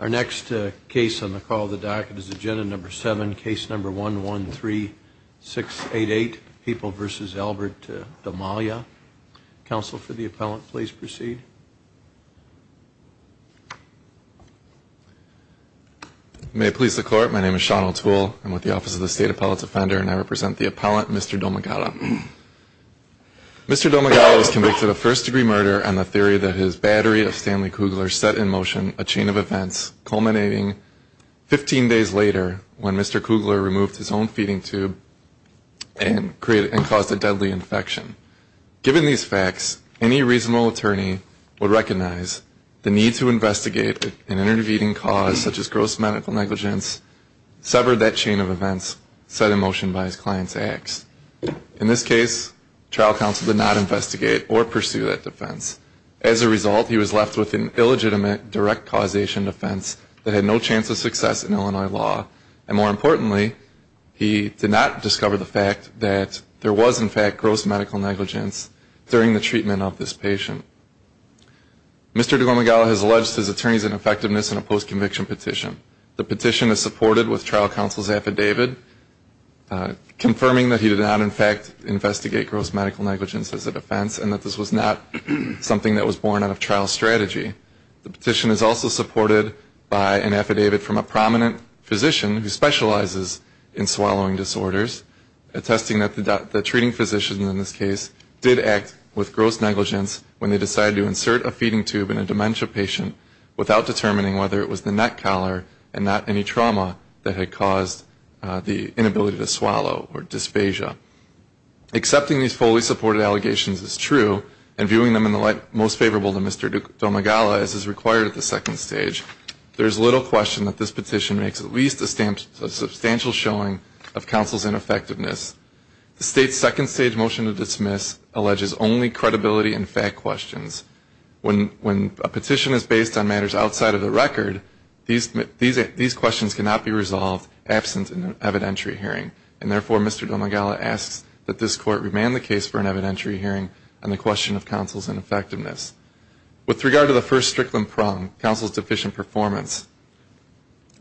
Our next case on the call of the docket is agenda number seven, case number 113688, People v. Albert D'Amalia. Counsel for the appellant, please proceed. May it please the court, my name is Sean O'Toole. I'm with the Office of the State Appellate's Defender and I represent the appellant, Mr. Domagala. Mr. Domagala was convicted of first-degree murder on the theory that his battery of Stanley Kugler set in motion a chain of events culminating 15 days later when Mr. Kugler removed his own feeding tube and caused a deadly infection. Given these facts, any reasonable attorney would recognize the need to investigate an intervening cause such as gross medical negligence severed that chain of events set in motion by his client's ex. In this case, trial counsel did not investigate or pursue that defense. As a result, he was left with an illegitimate direct causation defense that had no chance of success in Illinois law. And more importantly, he did not discover the fact that there was, in fact, gross medical negligence during the treatment of this patient. Mr. Domagala has alleged his attorney's ineffectiveness in a post-conviction petition. The petition is supported with trial counsel's affidavit confirming that he did not, in fact, investigate gross medical negligence as a defense and that this was not something that was born out of trial strategy. The petition is also supported by an affidavit from a prominent physician who specializes in swallowing disorders, attesting that the treating physician in this case did act with gross negligence when they decided to insert a feeding tube in a dementia patient without determining whether it was the neck collar and not any trauma that had caused the inability to swallow or dysphagia. Accepting these fully supported allegations is true, and viewing them in the light most favorable to Mr. Domagala, as is required at the second stage, there is little question that this petition makes at least a substantial showing of counsel's ineffectiveness. The state's second stage motion to dismiss alleges only credibility and fact questions. When a petition is based on matters outside of the record, these questions cannot be resolved absent an evidentiary hearing, and therefore Mr. Domagala asks that this court remand the case for an evidentiary hearing on the question of counsel's ineffectiveness. With regard to the first strickland prong, counsel's deficient performance,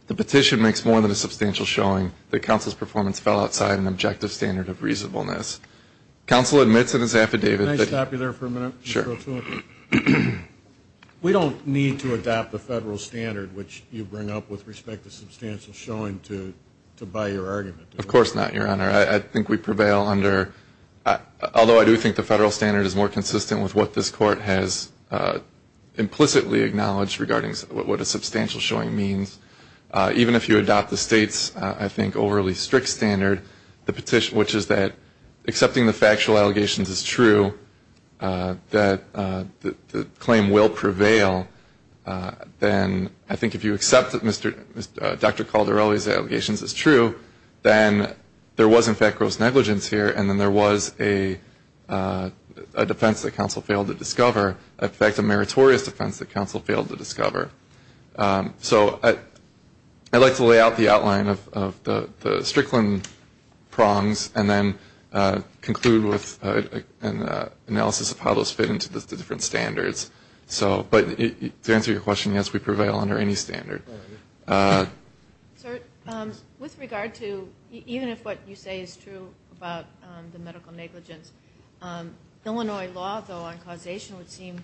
the petition makes more than a substantial showing that the federal standard of reasonableness. Counsel admits in his affidavit that we don't need to adopt the federal standard which you bring up with respect to substantial showing to buy your argument. Of course not, your honor. I think we prevail under, although I do think the federal standard is more consistent with what this court has implicitly acknowledged regarding what a substantial showing means. Even if you adopt the state's, I think, overly strict standard, which is that accepting the factual allegations is true, that the claim will prevail, then I think if you accept that Dr. Caldarelli's allegations is true, then there was in fact gross negligence here, and then there was a defense that counsel failed to discover, in fact a meritorious defense that counsel failed to discover. So I'd like to lay out the outline of the strickland prongs and then conclude with an analysis of how those fit into the different standards. But to answer your question, yes, we prevail under any standard. Sir, with regard to, even if what you say is true about the medical negligence, Illinois law, though, on causation would seem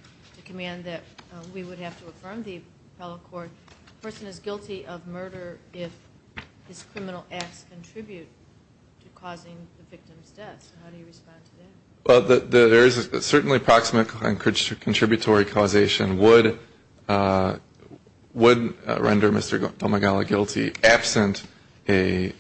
to have to affirm the appellate court, a person is guilty of murder if his criminal acts contribute to causing the victim's death. How do you respond to that? Well, there is certainly approximate contributory causation would render Mr. Domagala guilty absent an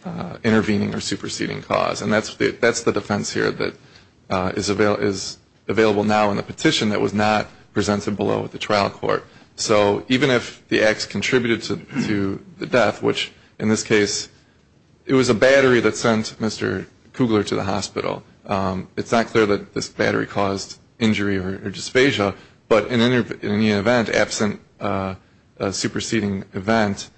intervening or superseding cause. And that's the defense here that is available now in the petition that was not presented below at the trial court. So even if the acts contributed to the death, which in this case it was a battery that sent Mr. Kugler to the hospital, it's not clear that this battery caused injury or dysphagia, but in any event, absent a superseding event,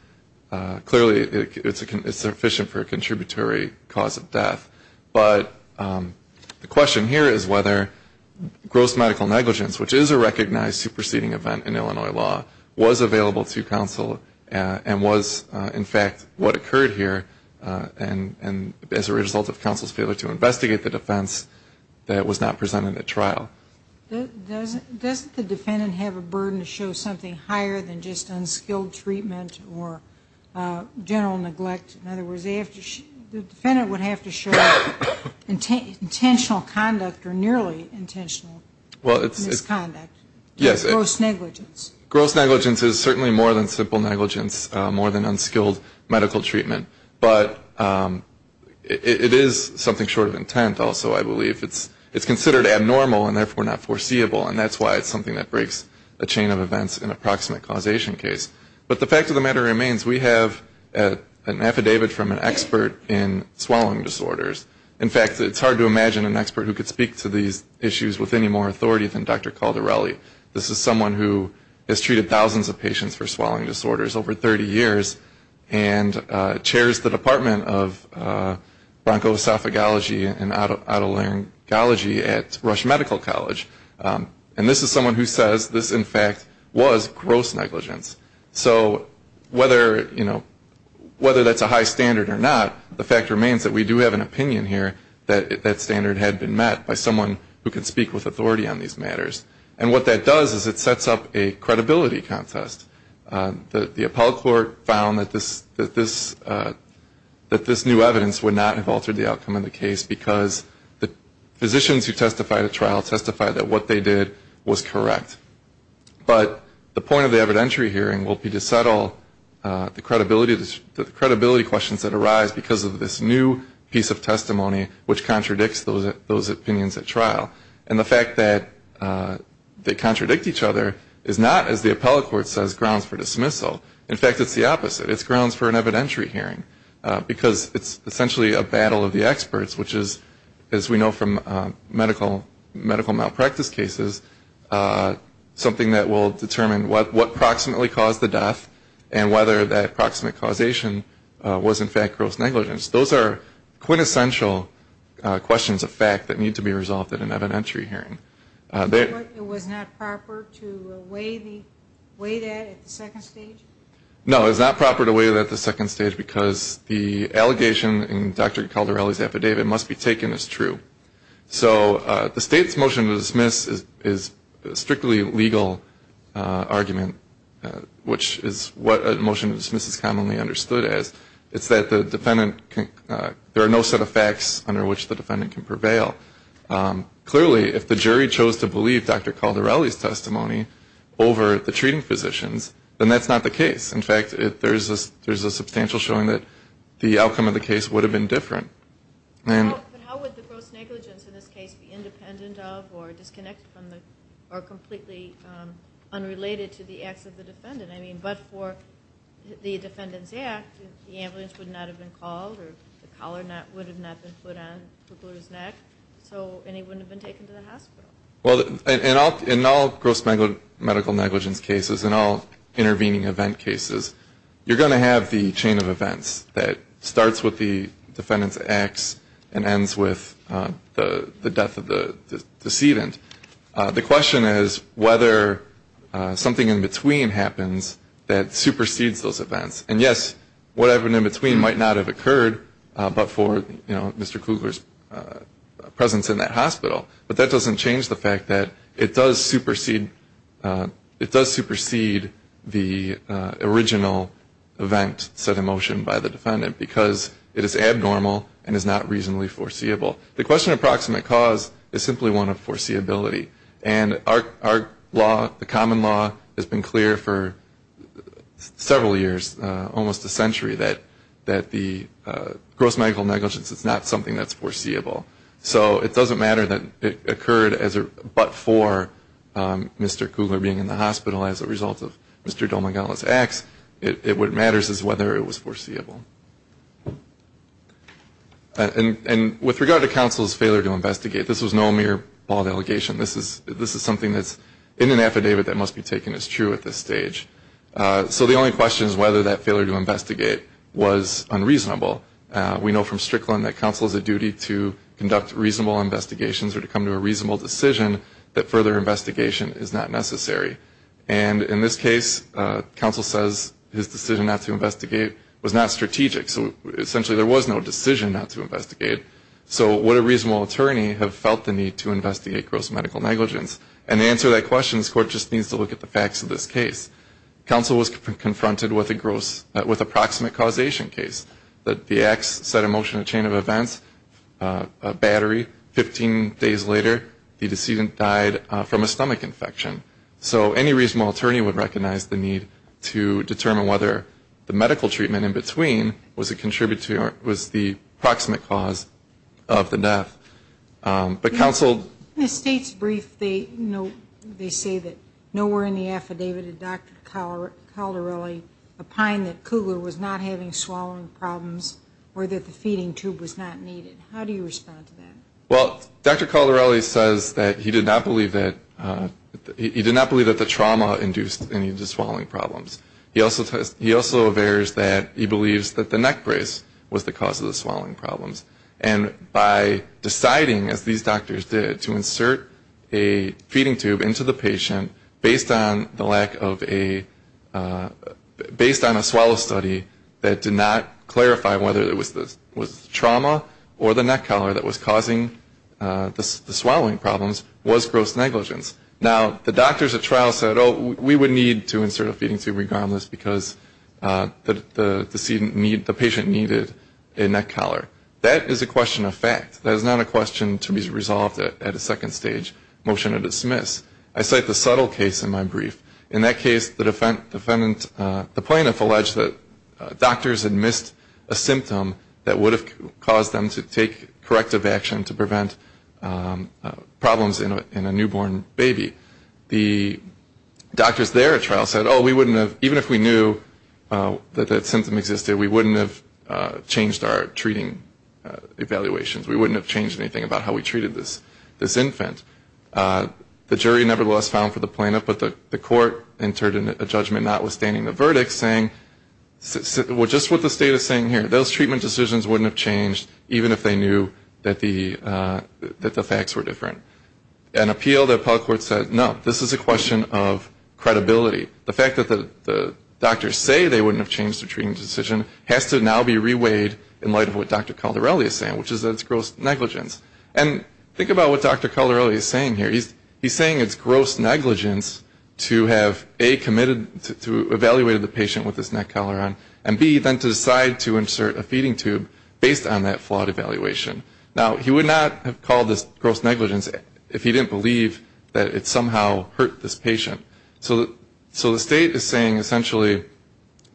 clearly it's sufficient for a contributory cause of death. But the question here is whether gross medical negligence, which is a recognized superseding event in Illinois law, was available to counsel and was, in fact, what occurred here and as a result of counsel's failure to investigate the defense that was not presented at trial. Does the defendant have a burden to show something higher than just unskilled treatment or general neglect? In other words, the defendant would have to show intentional conduct or nearly intentional misconduct, gross negligence. Gross negligence is certainly more than simple negligence, more than unskilled medical treatment, but it is something short of intent also, I believe. It's considered abnormal and therefore not foreseeable, and that's why it's something that breaks a chain of events in an approximate causation case. But the fact of the matter remains, we have an affidavit from an expert in swallowing disorders. In fact, it's hard to imagine an expert who could speak to these issues with any more authority than Dr. Caldarelli. This is someone who has treated thousands of patients for swallowing disorders over 30 years and chairs the Department of Bronchosophagology and Otolaryngology at Rush Medical College. And this is someone who says this, in fact, was gross negligence. So whether that's a high standard or not, the fact remains that we do have an opinion here that that standard had been met by someone who can speak with authority on these matters. And what that does is it sets up a credibility contest. The appellate court found that this new evidence would not have altered the outcome of the case because the physicians who testified at trial testified that what they did was correct. But the point of the evidentiary hearing will be to settle the credibility questions that arise because of this new piece of testimony which contradicts those opinions at trial. And the fact that they contradict each other is not, as the appellate court says, grounds for dismissal. In fact, it's the opposite. It's grounds for an evidentiary hearing. Because it's essentially a battle of the experts, which is, as we know from medical malpractice cases, something that will determine what proximately caused the death and whether that proximate causation of the death was in fact gross negligence. Those are quintessential questions of fact that need to be resolved at an evidentiary hearing. It was not proper to weigh that at the second stage? No, it was not proper to weigh that at the second stage because the allegation in Dr. Caldarelli's affidavit must be taken as true. So the State's motion to dismiss is a strictly legal argument, which is what a motion to dismiss is commonly understood as. It's that the defendant, there are no set of facts under which the defendant can prevail. Clearly, if the jury chose to believe Dr. Caldarelli's testimony over the treating physician's, then that's not the case. In fact, there's a substantial showing that the outcome of the case would have been different. But how would the gross negligence in this case be independent of or disconnected from or completely unrelated to the acts of the defendant? Well, in all gross medical negligence cases, in all intervening event cases, you're going to have the chain of events that starts with the defendant's acts and ends with the death of the decedent. The question is whether something in between happens that might not have occurred but for Mr. Kugler's presence in that hospital. But that doesn't change the fact that it does supersede the original event set in motion by the defendant because it is abnormal and is not reasonably foreseeable. The question of proximate cause is simply one of foreseeability. And our law, the common law, has been clear for several years, almost a century, that the gross medical negligence is not something that's foreseeable. So it doesn't matter that it occurred but for Mr. Kugler being in the hospital as a result of Mr. Domegala's acts. What matters is whether it was foreseeable. And with regard to counsel's failure to investigate, this was no mere bald allegation. This is something that's in an affidavit that that failure to investigate was unreasonable. We know from Strickland that counsel has a duty to conduct reasonable investigations or to come to a reasonable decision that further investigation is not necessary. And in this case, counsel says his decision not to investigate was not strategic. So essentially there was no decision not to investigate. So would a reasonable attorney have felt the need to investigate gross medical negligence? And to answer that question, this Court just needs to look at the facts of this case. Counsel was confronted with a gross, with a proximate causation case. The acts set a motion, a chain of events, a battery. Fifteen days later, the decedent died from a stomach infection. So any reasonable attorney would recognize the need to determine whether the medical treatment in between was the proximate cause of the death. But counsel did not believe that the trauma induced any of the swallowing problems. He also aversed that he believes that the neck brace was the cause of the swallowing problem. So what these doctors did to insert a feeding tube into the patient based on the lack of a, based on a swallow study that did not clarify whether it was trauma or the neck collar that was causing the swallowing problems was gross negligence. Now, the doctors at trial said, oh, we would need to insert a feeding tube regardless because the patient needed a swallowing problem to resolve at a second stage, motion to dismiss. I cite the subtle case in my brief. In that case, the defendant, the plaintiff alleged that doctors had missed a symptom that would have caused them to take corrective action to prevent problems in a newborn baby. The doctors there at trial said, oh, we wouldn't have, even if we knew that that symptom existed, we wouldn't have changed our treating evaluations. We wouldn't have changed anything about how we treated this infant. The jury nevertheless found for the plaintiff, but the court entered a judgment notwithstanding the verdict saying, well, just what the state is saying here, those treatment decisions wouldn't have changed even if they knew that the facts were different. An appeal, the appellate court said, no, this is a question of credibility. The fact that the doctors say they wouldn't have changed the treatment decision has to now be weighed in light of what Dr. Caldarelli is saying, which is that it's gross negligence. And think about what Dr. Caldarelli is saying here. He's saying it's gross negligence to have, A, committed to evaluate the patient with this neck cholera and, B, then to decide to insert a feeding tube based on that flawed evaluation. Now, he would not have called this gross negligence if he didn't believe that it somehow hurt this patient. So the state is saying, essentially,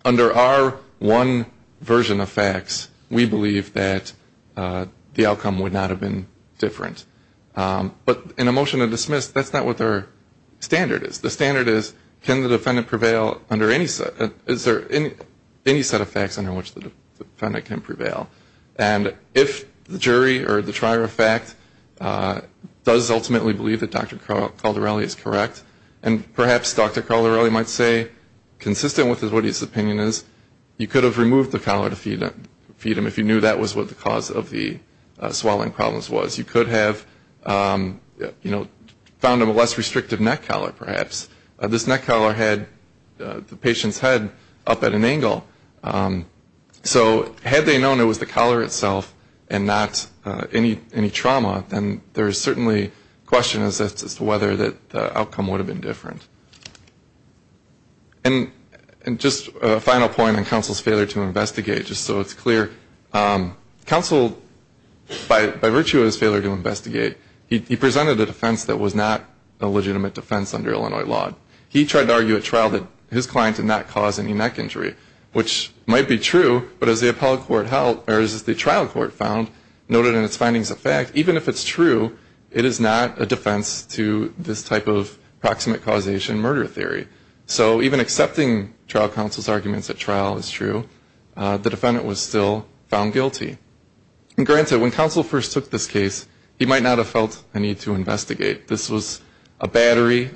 under our one version of FADS, it's gross negligence to have a patient with this neck cholera and, B, then to decide to insert a feeding tube based on that flawed evaluation. Now, that's not what the standard is. The standard is, can the defendant prevail under any set of facts under which the defendant can prevail? And if the jury or the trier of fact does ultimately believe that Dr. Caldarelli is correct, and perhaps Dr. Caldarelli might say, consistent with what his opinion is, you could have removed the cholera to feed him if you knew that was what the cause of the swelling problems was. You could have, you know, found him a less restrictive neck cholera, perhaps. This neck cholera had the patient's head up at an angle. So had they known it was the cholera itself and not any trauma, then there's certainly questions as to whether that outcome would have been different. And just a final point on counsel's failure to investigate, just so it's clear. Counsel, by virtue of his failure to investigate, he presented a defense that was not a legitimate defense under Illinois law. He tried to argue at trial that his client did not cause any neck injury, which might be true, but as the trial court found, noted in its defense to this type of proximate causation murder theory. So even accepting trial counsel's arguments at trial is true, the defendant was still found guilty. Granted, when counsel first took this case, he might not have felt a need to investigate. This was a battery.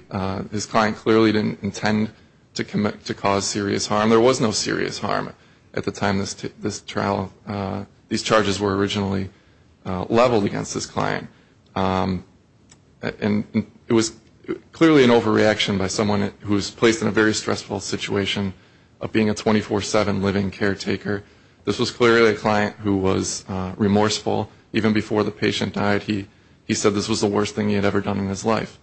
His client clearly didn't intend to cause serious harm. There was no serious harm at the time this trial, these trials, and it was clearly an overreaction by someone who was placed in a very stressful situation of being a 24-7 living caretaker. This was clearly a client who was remorseful. Even before the patient died, he said this was the worst thing he had ever done in his life.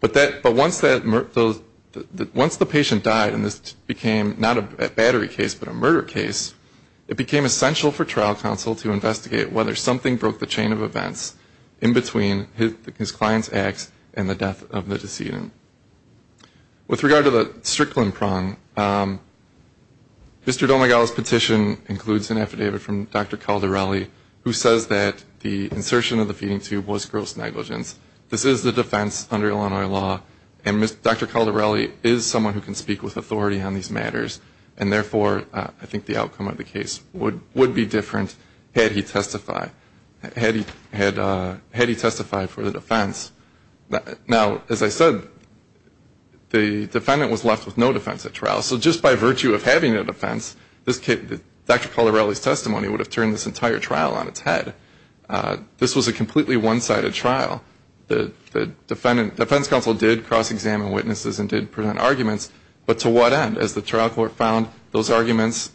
But once the patient died and this became not a battery case, but a murder case, it became essential for trial counsel to investigate the client's acts and the death of the decedent. With regard to the Strickland prong, Mr. Domegal's petition includes an affidavit from Dr. Caldarelli, who says that the insertion of the feeding tube was gross negligence. This is the defense under Illinois law, and Dr. Caldarelli is someone who can speak with authority on these matters, and therefore, I think the outcome of the case would be different had he testified. Had he testified for the defense, he would have been able to speak with authority on this. Now, as I said, the defendant was left with no defense at trial. So just by virtue of having a defense, Dr. Caldarelli's testimony would have turned this entire trial on its head. This was a completely one-sided trial. The defense counsel did cross-examine witnesses and did present arguments, but to what end? As the trial court found, those arguments,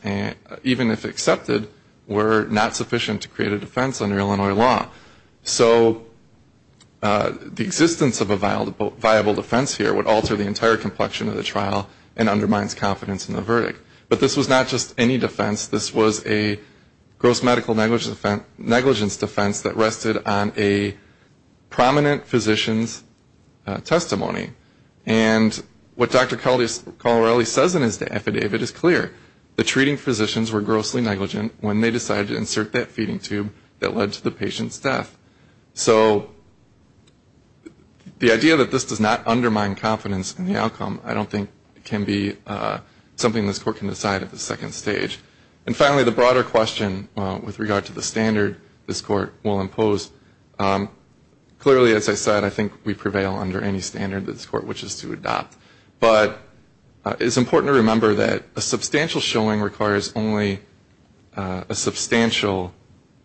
even if accepted, were not valid. The existence of a viable defense here would alter the entire complexion of the trial and undermine confidence in the verdict. But this was not just any defense. This was a gross medical negligence defense that rested on a prominent physician's testimony. And what Dr. Caldarelli says in his affidavit is clear. The treating physicians were grossly negligent when they decided to insert that feeding tube that led to the patient's death. The idea that this does not undermine confidence in the outcome I don't think can be something this Court can decide at the second stage. And finally, the broader question with regard to the standard this Court will impose, clearly, as I said, I think we prevail under any standard that this Court wishes to adopt. But it's important to remember that a substantial showing requires only a substantial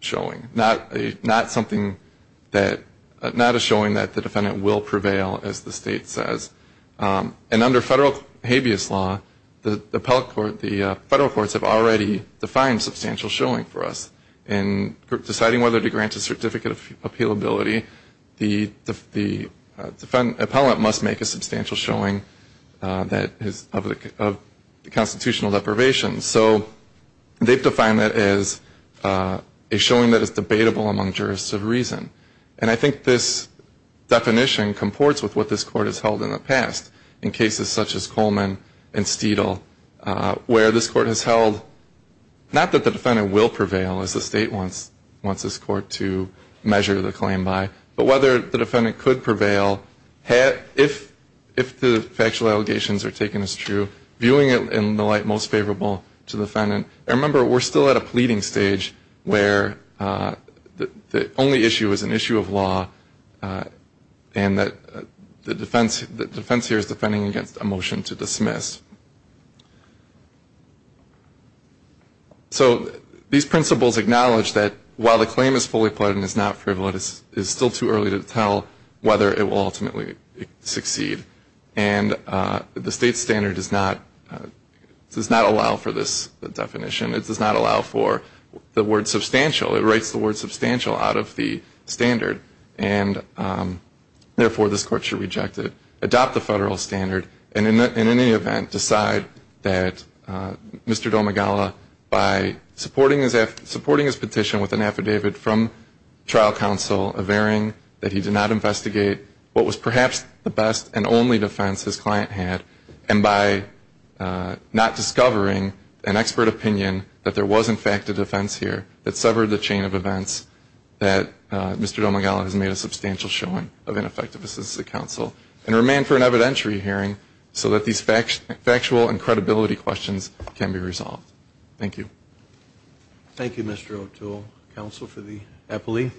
showing, not something that, not a showing that the defendant's testimony is valid, but a showing that the defendant's testimony is valid and that the defendant will prevail, as the State says. And under federal habeas law, the federal courts have already defined substantial showing for us. In deciding whether to grant a certificate of appealability, the defendant must make a substantial showing of the constitutional deprivation. So they've defined that as a showing that is debatable among jurists of all ages. And that definition comports with what this Court has held in the past in cases such as Coleman and Steedle, where this Court has held, not that the defendant will prevail, as the State wants this Court to measure the claim by, but whether the defendant could prevail if the factual allegations are taken as true, viewing it in the light most favorable to the defendant. And remember, we're still at a pleading stage where the only issue is an issue of law, and the only issue is an issue of justice, and that the defense here is defending against a motion to dismiss. So these principles acknowledge that while the claim is fully pledged and is not frivolous, it is still too early to tell whether it will ultimately succeed. And the State standard does not allow for this definition. It does not allow for the word to be used, and therefore, this Court should reject it, adopt the federal standard, and in any event, decide that Mr. Domagala, by supporting his petition with an affidavit from trial counsel, averring that he did not investigate what was perhaps the best and only defense his client had, and by not discovering an expert opinion that there was, in fact, a defense here that severed the chain of events, that Mr. Domagala has made a substantial showing. So I ask that the Court accept the request of ineffective assistant counsel and remand for an evidentiary hearing so that these factual and credibility questions can be resolved. Thank you. Thank you, Mr. O'Toole. Counsel for the appellee.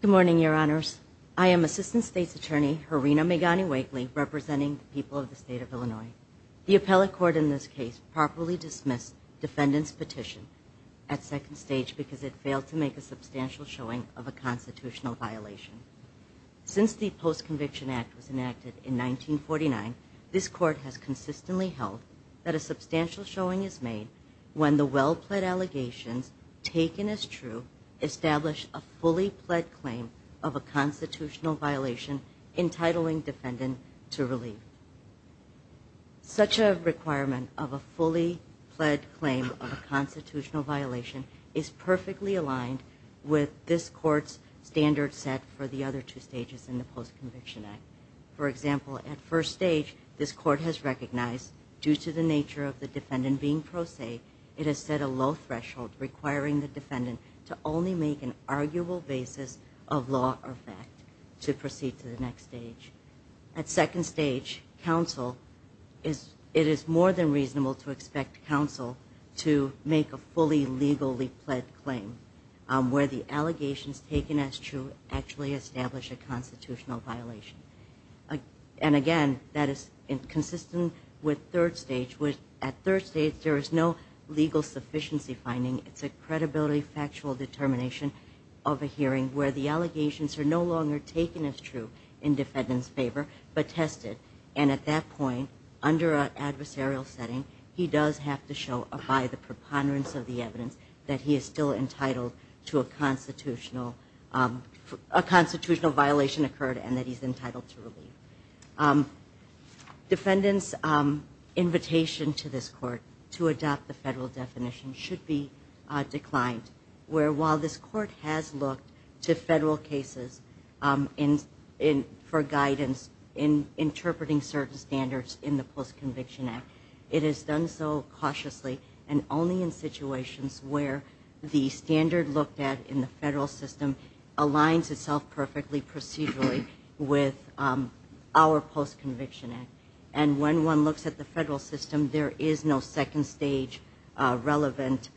Good morning, Your Honors. I am Assistant State's Attorney Harina Megani Wakely, representing the people of the State of Illinois. The appellate court in this case properly dismissed defendant's petition at second stage because it failed to make a constitutional violation. Since the Post-Conviction Act was enacted in 1949, this Court has consistently held that a substantial showing is made when the well-pled allegations taken as true establish a fully-pled claim of a constitutional violation entitling defendant to relief. Such a requirement of a fully-pled claim of a constitutional violation is perfectly aligned with this Court's standard set for the other two stages in the Post-Conviction Act. For example, at first stage, this Court has recognized, due to the nature of the defendant being pro se, it has set a low threshold requiring the defendant to only make an arguable basis of law or fact to proceed to the next stage. At second stage, it is more than reasonable to expect counsel to make a fully-legally-pled claim where the allegations taken as true actually establish a constitutional violation. And again, that is consistent with third stage. At third stage, there is no legal sufficiency finding. It's a credibility, factual determination of a hearing where the allegations are no longer taken as true in defendant's favor, but tested. And at that point, under an appropriate preponderance of the evidence, that he is still entitled to a constitutional violation occurred and that he's entitled to relief. Defendant's invitation to this Court to adopt the federal definition should be declined, where while this Court has looked to federal cases for guidance in interpreting certain standards in the Post-Conviction Act, it has done so cautiously and only in situations where the standard looked at in the federal system aligns itself perfectly procedurally with our Post-Conviction Act. And when one looks at the federal system, there is no second stage relevant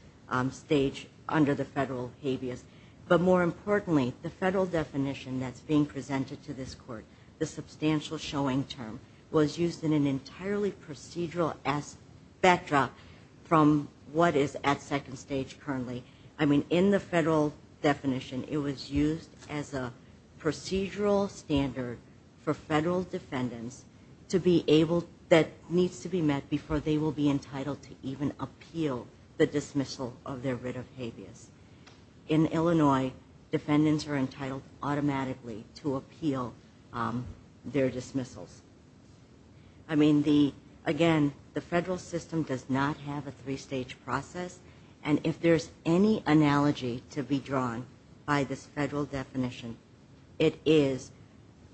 stage under the federal habeas. But more importantly, the federal definition that's being presented to this Court, the substantial showing term, was used in an appropriate manner from what is at second stage currently. I mean, in the federal definition, it was used as a procedural standard for federal defendants that needs to be met before they will be entitled to even appeal the dismissal of their writ of habeas. In Illinois, defendants are entitled automatically to appeal their dismissals. I mean, again, the federal system does not have a three-stage process. And if there's any analogy to be drawn by this federal definition, it is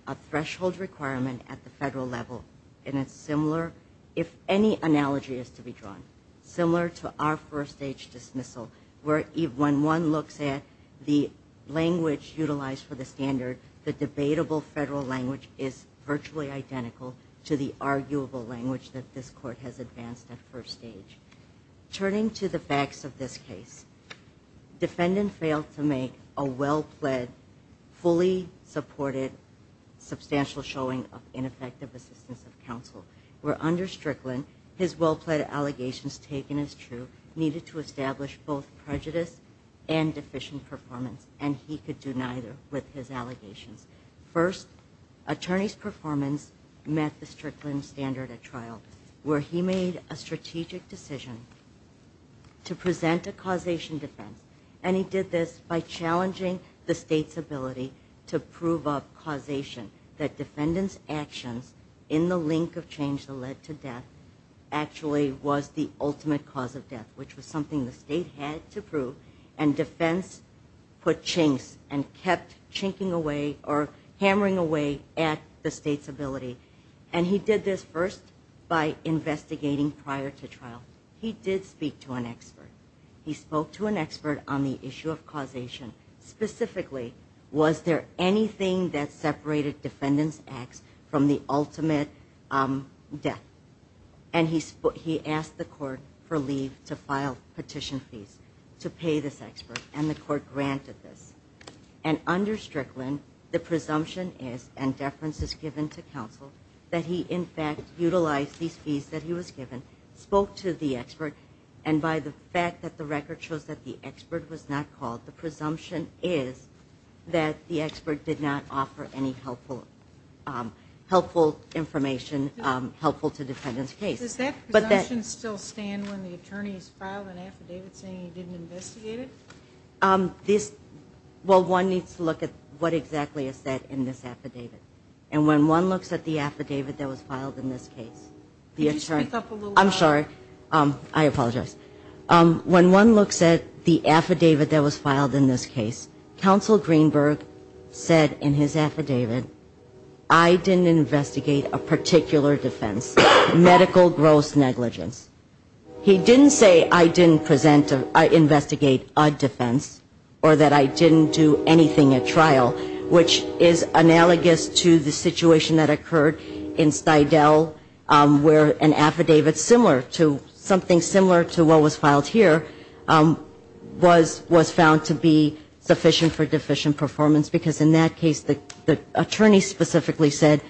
a threshold requirement at the federal level. And it's similar, if any analogy is to be drawn, similar to our first-stage dismissal, where when one looks at the language utilized for the standard, the debatable federal language is virtually identical to the arguable language that this Court has used to advance that first stage. Turning to the facts of this case, defendant failed to make a well-pled, fully supported, substantial showing of ineffective assistance of counsel, where under Strickland, his well-pled allegations taken as true needed to establish both prejudice and deficient performance, and he could do neither with his allegations. First, attorney's performance met the Strickland standard at trial, where he made a strategic decision to present a causation defense. And he did this by challenging the state's ability to prove a causation, that defendants' actions in the link of change that led to death actually was the ultimate cause of death, which was something the state had to prove. And defense put chinks and kept chinking away or kept chipping away. And he did this first by investigating prior to trial. He did speak to an expert. He spoke to an expert on the issue of causation, specifically, was there anything that separated defendants' acts from the ultimate death? And he asked the court for leave to file petition fees to pay this expert, and the court granted this. And under Strickland, the presumption is, and he, in fact, utilized these fees that he was given, spoke to the expert, and by the fact that the record shows that the expert was not called, the presumption is that the expert did not offer any helpful information helpful to defendants' case. Does that presumption still stand when the attorney's filed an affidavit saying he didn't investigate it? This, well, one needs to look at what exactly is said in this affidavit. And when one looks at the affidavit that was filed, in this case, the attorney, I'm sorry, I apologize. When one looks at the affidavit that was filed in this case, counsel Greenberg said in his affidavit, I didn't investigate a particular defense, medical gross negligence. He didn't say I didn't present, I investigate a defense or that I didn't do anything at trial, which is analogous to the situation that occurred in Stuyvesant. In the case of Fidel, where an affidavit similar to something similar to what was filed here was found to be sufficient for deficient performance, because in that case the attorney specifically said,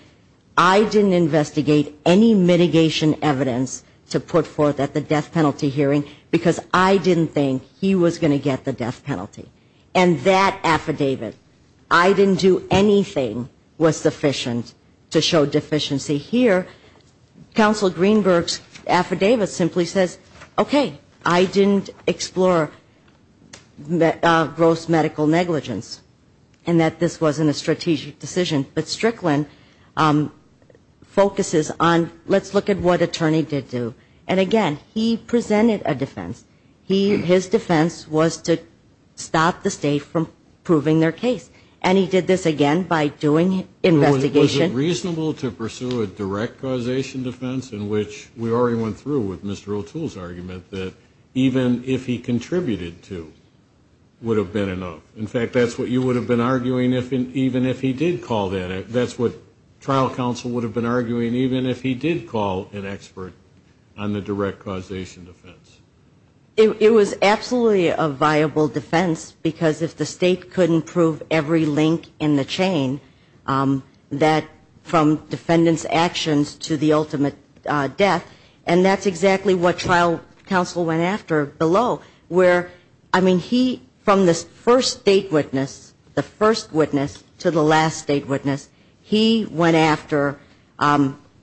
I didn't investigate any mitigation evidence to put forth at the death penalty hearing, because I didn't think he was going to get the death penalty. And that affidavit, I didn't do anything was sufficient to show deficiency. Here, counsel Greenberg's affidavit simply says, okay, I didn't explore gross medical negligence, and that this wasn't a strategic decision. But Strickland focuses on, let's look at what attorney did do. And again, he presented a defense. His defense was to stop the state from proving their case. And he did this again by doing investigation. Was it reasonable to pursue a direct causation defense in which we already went through with Mr. O'Toole's argument that even if he contributed to would have been enough? In fact, that's what you would have been arguing even if he did call that. That's what trial counsel would have been arguing even if he did call an expert on the direct causation defense. It was absolutely a viable defense, because if the state couldn't prove every link in the chain, that from defendant's actions to the ultimate death, and that's exactly what trial counsel went after below. Where, I mean, he, from the first state witness, the first witness to the last state witness, he went after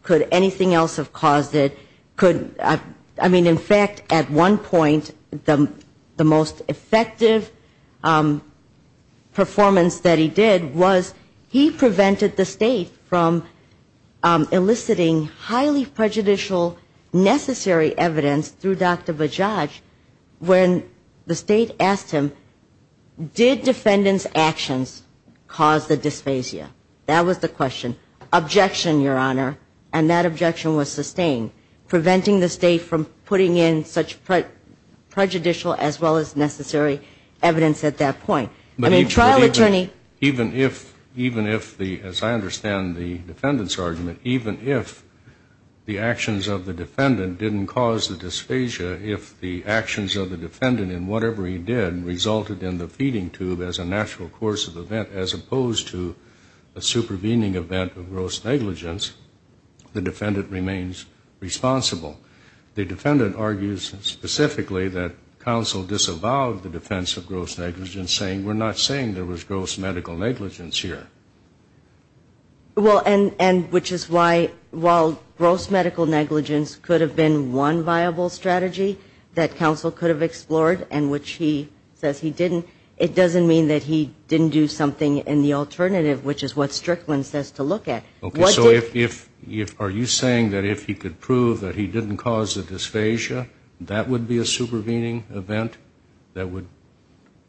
could anything else have caused it, could, I mean, in fact, at the point, the most effective performance that he did was he prevented the state from eliciting highly prejudicial necessary evidence through Dr. Bajaj when the state asked him, did defendant's actions cause the dysphagia? That was the question. Objection, Your Honor. I don't believe that he was putting in such prejudicial as well as necessary evidence at that point. I mean, trial attorney But even if, even if the, as I understand the defendant's argument, even if the actions of the defendant didn't cause the dysphagia, if the actions of the defendant in whatever he did resulted in the feeding tube as a natural course of event, as opposed to a supervening event of gross negligence, the defendant remains responsible. The defendant argued that the defendant's actions were not a natural course of event. The defendant argues specifically that counsel disavowed the defense of gross negligence, saying we're not saying there was gross medical negligence here. Well, and, and which is why, while gross medical negligence could have been one viable strategy that counsel could have explored, and which he says he didn't, it doesn't mean that he didn't do something in the alternative, which is what Strickland says to look at. Okay, so if, if, are you saying that if he could prove that he didn't cause the dysphagia, that would be a supervening event that would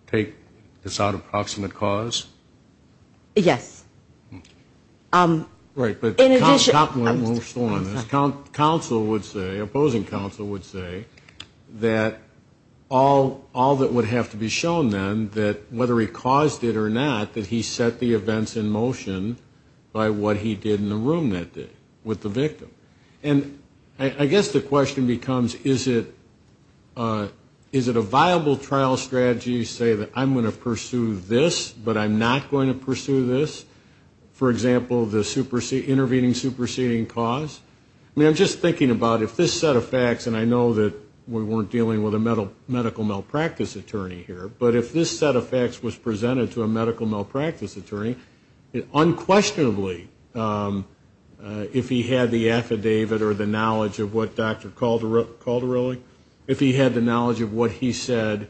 take this out of proximate cause? Yes. Right, but counsel would say, opposing counsel would say, that all, all that would have to be shown then, that whether he caused it or not, that he set the events in motion by what he did in the room that day with the victim. And I guess the question becomes, is it, is it a viable trial strategy to say that I'm going to pursue this, but I'm not going to pursue this? For example, the intervening superseding cause? I mean, I'm just thinking about if this set of facts, and I know that we weren't dealing with a medical malpractice attorney here, but if this set of facts was presented to a medical malpractice attorney, unquestionably, if he had the affidavit or the knowledge of what Dr. Calderelli, if he had the knowledge of what he said,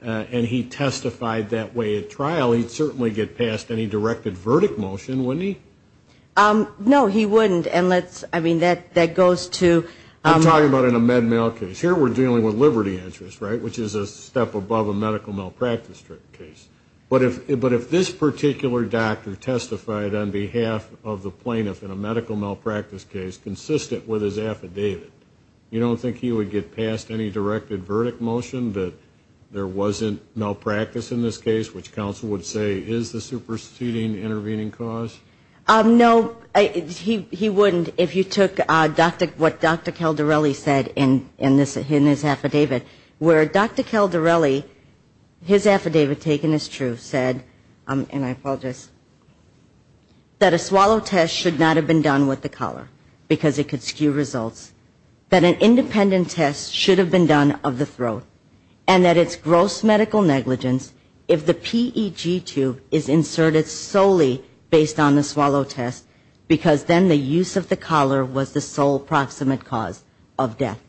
and he testified that way at trial, he'd certainly get past any directed verdict motion, wouldn't he? No, he wouldn't, and let's, I mean, that, that goes to... But if, but if this particular doctor testified on behalf of the plaintiff in a medical malpractice case consistent with his affidavit, you don't think he would get past any directed verdict motion, that there wasn't malpractice in this case, which counsel would say is the superseding intervening cause? No, he, he wouldn't if you took Dr., what Dr. Calderelli said in, in this, in his affidavit, where Dr. Calderelli, his affidavit taken as true, said, and I apologize, that a swallow test should not have been done with the collar, because it could skew results, that an independent test should have been done of the throat, and that it's gross medical negligence if the PEG tube is inserted solely based on the swallow test, because then the use of the collar was the sole proximate cause of death.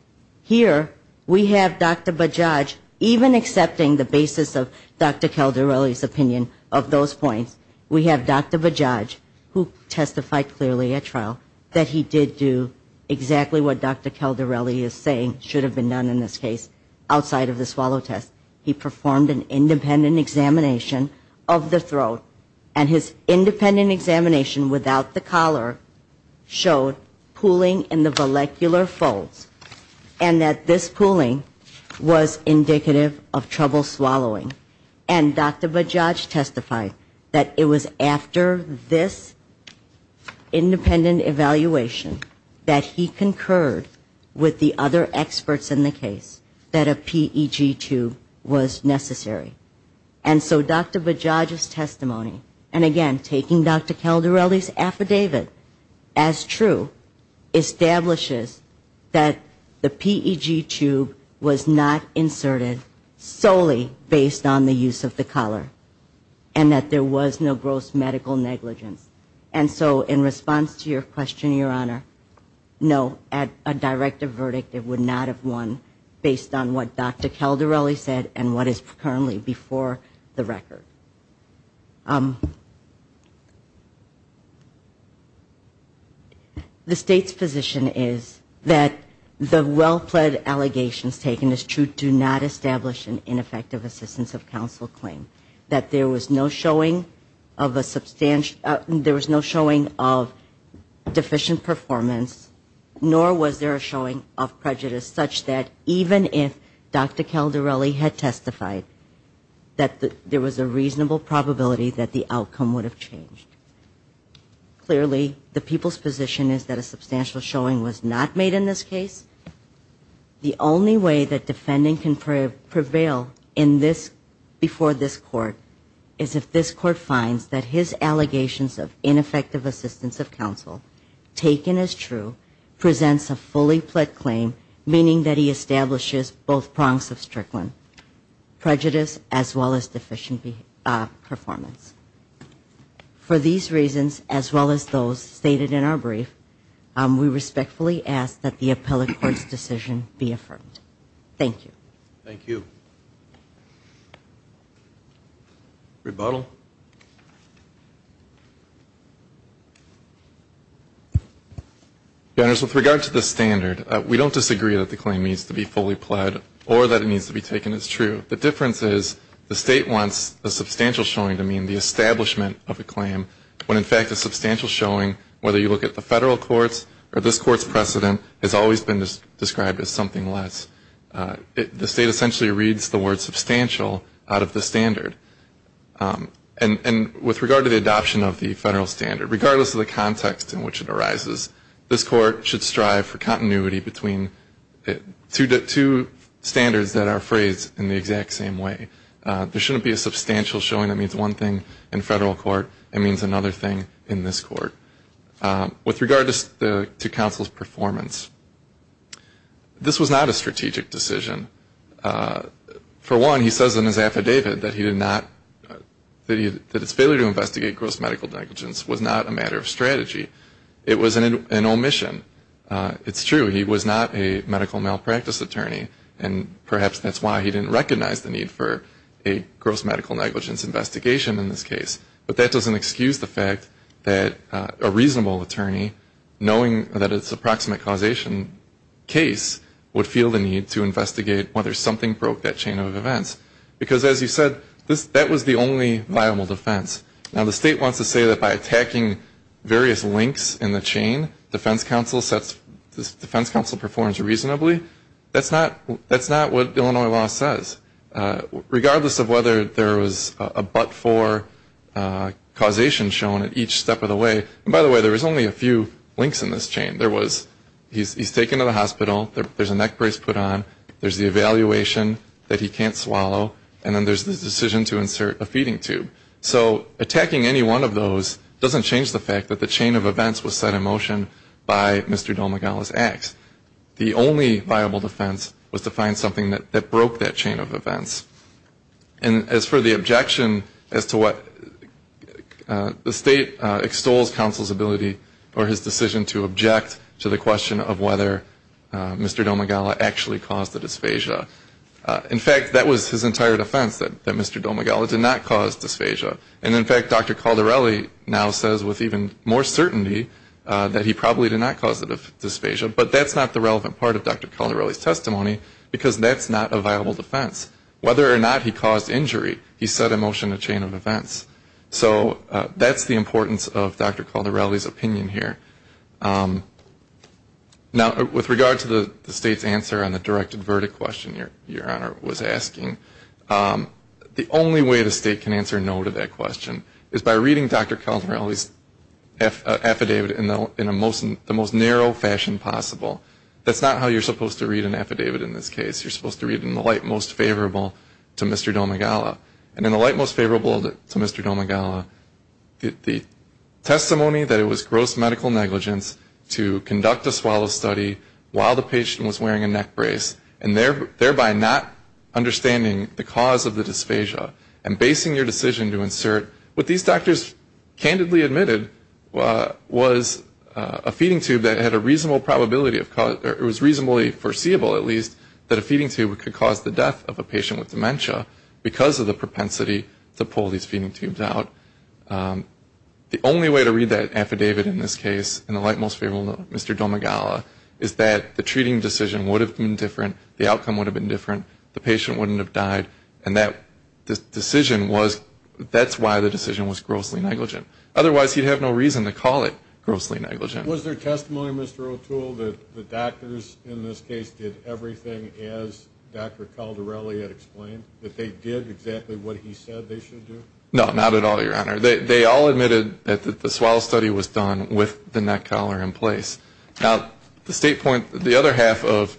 Here we have Dr. Bajaj, even accepting the basis of Dr. Calderelli's opinion of those points, we have Dr. Bajaj, who testified clearly at trial, that he did do exactly what Dr. Calderelli is saying should have been done in this case, outside of the swallow test. He performed an independent examination of the throat, and his independent examination without the collar showed pooling in the molecular folds. And that this pooling was indicative of trouble swallowing. And Dr. Bajaj testified that it was after this independent evaluation that he concurred with the other experts in the case that a PEG tube was necessary. And so Dr. Bajaj's testimony, and again, taking Dr. Calderelli's testimony, was that the PEG tube was not inserted solely based on the use of the collar, and that there was no gross medical negligence. And so in response to your question, Your Honor, no, at a directive verdict it would not have won based on what Dr. Calderelli said and what is currently before the record. The State's position is that the well-pled allegations taken as true do not establish an ineffective assistance of counsel claim, that there was no showing of a substantial, there was no showing of deficient performance, nor was there a showing of prejudice such that even if Dr. Bajaj testified, there was a reasonable probability that the outcome would have changed. Clearly, the people's position is that a substantial showing was not made in this case. The only way that defending can prevail in this, before this Court, is if this Court finds that his allegations of ineffective assistance of counsel taken as true presents a fully pled claim, meaning that he establishes both prongs of performance. For these reasons, as well as those stated in our brief, we respectfully ask that the appellate court's decision be affirmed. Thank you. Rebuttal. Your Honors, with regard to the standard, we don't disagree that the claim needs to be fully pled or that it needs to be taken as true. The difference is the State wants a substantial showing to mean the establishment of a claim, when in fact a substantial showing, whether you look at the Federal courts or this Court's precedent, has always been described as something less. The State essentially reads the word substantial out of the standard. And with regard to the adoption of the Federal standard, regardless of the context in which it arises, this Court should strive for continuity between two standards that are phrased in the exact same way. There shouldn't be a substantial showing that means one thing in Federal court, it means another thing in this Court. With regard to counsel's performance, this was not a strategic decision. For one, he says in his affidavit that his failure to investigate gross medical negligence was not a matter of strategy. It was an omission. It's true, he was not a medical malpractice attorney, and perhaps that's why he didn't recognize the need for a gross medical negligence investigation in this case. But that doesn't excuse the fact that a reasonable attorney, knowing that it's a proximate causation case, would feel the need to investigate whether something broke that chain of events. Because as you said, that was the only viable defense. Now the State wants to say that by attacking various links in the chain, defense counsel performs reasonably. That's not what Illinois law says. Regardless of whether there was a but-for causation shown at each step of the way, and by the way, there was only a few links in this chain. He's taken to the hospital, there's a neck brace put on, there's the evaluation that he can't swallow, and then there's the decision to insert a feeding tube. So attacking any one of those doesn't change the fact that the chain of events was set in motion by Mr. Domegala's acts. The only viable defense was to find something that broke that chain of events. And as for the objection as to what the State extols counsel's ability or his decision to object to the question of whether Mr. Domegala actually caused the dysphagia, in fact, that was his entire defense, that Mr. Domegala did not cause dysphagia. And in fact, Dr. Caldarelli now says with even more certainty that he probably did not cause the dysphagia, but that's not the relevant part of Dr. Caldarelli's testimony because that's not a viable defense. Whether or not he caused injury, he set in motion a chain of events. So that's the importance of Dr. Caldarelli's opinion here. Now with regard to the State's answer on the directed verdict question Your Honor was asking, the only way the State can answer no to that question is by reading Dr. Caldarelli's affidavit in the most narrow fashion possible. That's not how you're supposed to read an affidavit in this case. You're supposed to read it in the light most favorable to Mr. Domegala. And in the light most favorable to Mr. Domegala, the testimony that it was gross medical negligence to conduct a swallow study while the patient was wearing a neck brace and thereby not understanding the cause of the dysphagia and basing your decision to insult Mr. Domegala on the basis of the assert, what these doctors candidly admitted was a feeding tube that had a reasonable probability of cause, or it was reasonably foreseeable at least, that a feeding tube could cause the death of a patient with dementia because of the propensity to pull these feeding tubes out. The only way to read that affidavit in this case in the light most favorable to Mr. Domegala is that the treating decision would have been different, the outcome would have been different, the patient wouldn't have died, and that decision was grossly negligent. Otherwise he'd have no reason to call it grossly negligent. Was there testimony, Mr. O'Toole, that the doctors in this case did everything as Dr. Caldarelli had explained, that they did exactly what he said they should do? No, not at all, Your Honor. They all admitted that the swallow study was done with the neck collar in place. Now, the state point, the state has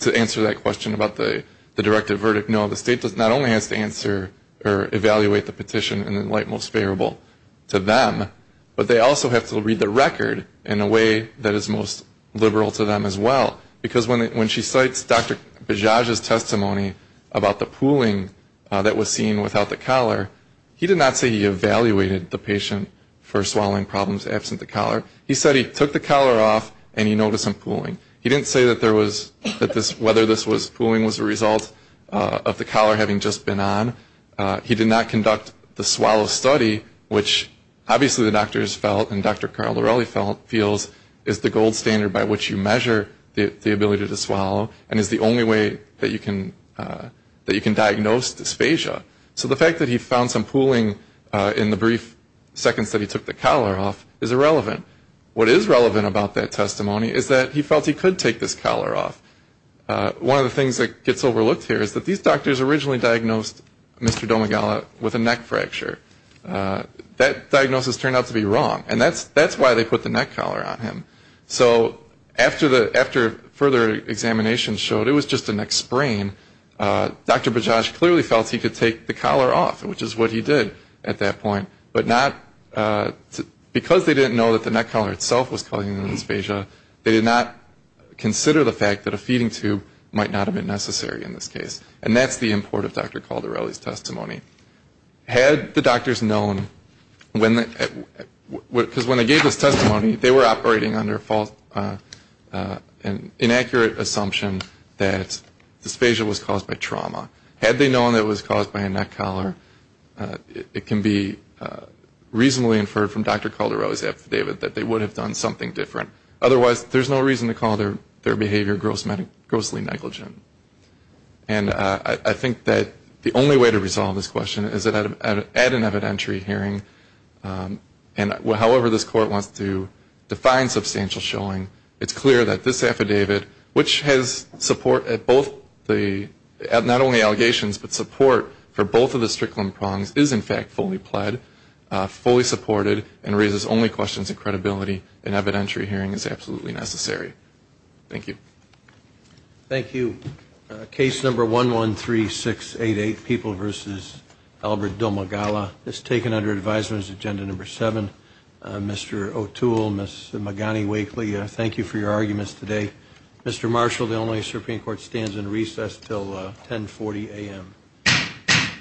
to answer that question about the directive verdict. No, the state not only has to answer or evaluate the petition in the light most favorable to them, but they also have to read the record in a way that is most liberal to them as well. Because when she cites Dr. Bajaj's testimony about the pooling that was seen without the collar, he did not say he evaluated the patient for swallowing problems absent the collar. He said he took the collar off and he noticed some pooling. He didn't say that there was, that whether this was pooling was a result of the collar having just been on. He did not conduct the swallow study, which obviously the doctors felt and Dr. Caldarelli feels is the gold standard by which you measure the ability to swallow and is the only way that you can diagnose dysphagia. So the fact that he found some pooling in the brief seconds that he took the collar off is irrelevant. What is relevant about that testimony is that he felt he could take this collar off. One of the things that gets overlooked here is that these doctors originally diagnosed Mr. Domagala with a neck fracture. That diagnosis turned out to be wrong and that's why they put the neck collar on him. So after further examination showed it was just a neck sprain, Dr. Bajaj clearly felt he could take the collar off. He did not say that the neck collar itself was causing the dysphagia. They did not consider the fact that a feeding tube might not have been necessary in this case. And that's the import of Dr. Caldarelli's testimony. Had the doctors known, because when they gave this testimony, they were operating under an inaccurate assumption that dysphagia was caused by trauma. Had they known it was caused by a neck collar, it can be reasonably inferred from Dr. Caldarelli's affidavit that dysphagia was caused by trauma, that they would have done something different. Otherwise, there's no reason to call their behavior grossly negligent. And I think that the only way to resolve this question is that at an evidentiary hearing, and however this court wants to define substantial showing, it's clear that this affidavit, which has support at both the, not only allegations, but support for both of the strickland prongs, is in fact fully pled, fully supported, and raises only questions of credibility. An evidentiary hearing is absolutely necessary. Thank you. Thank you. Case number 113688, People v. Albert Domegala. It's taken under advisement as agenda number seven. Mr. O'Toole, Ms. Magani-Wakely, thank you for your arguments today. Mr. Marshall, the Illinois Supreme Court stands in recess until 1040 a.m.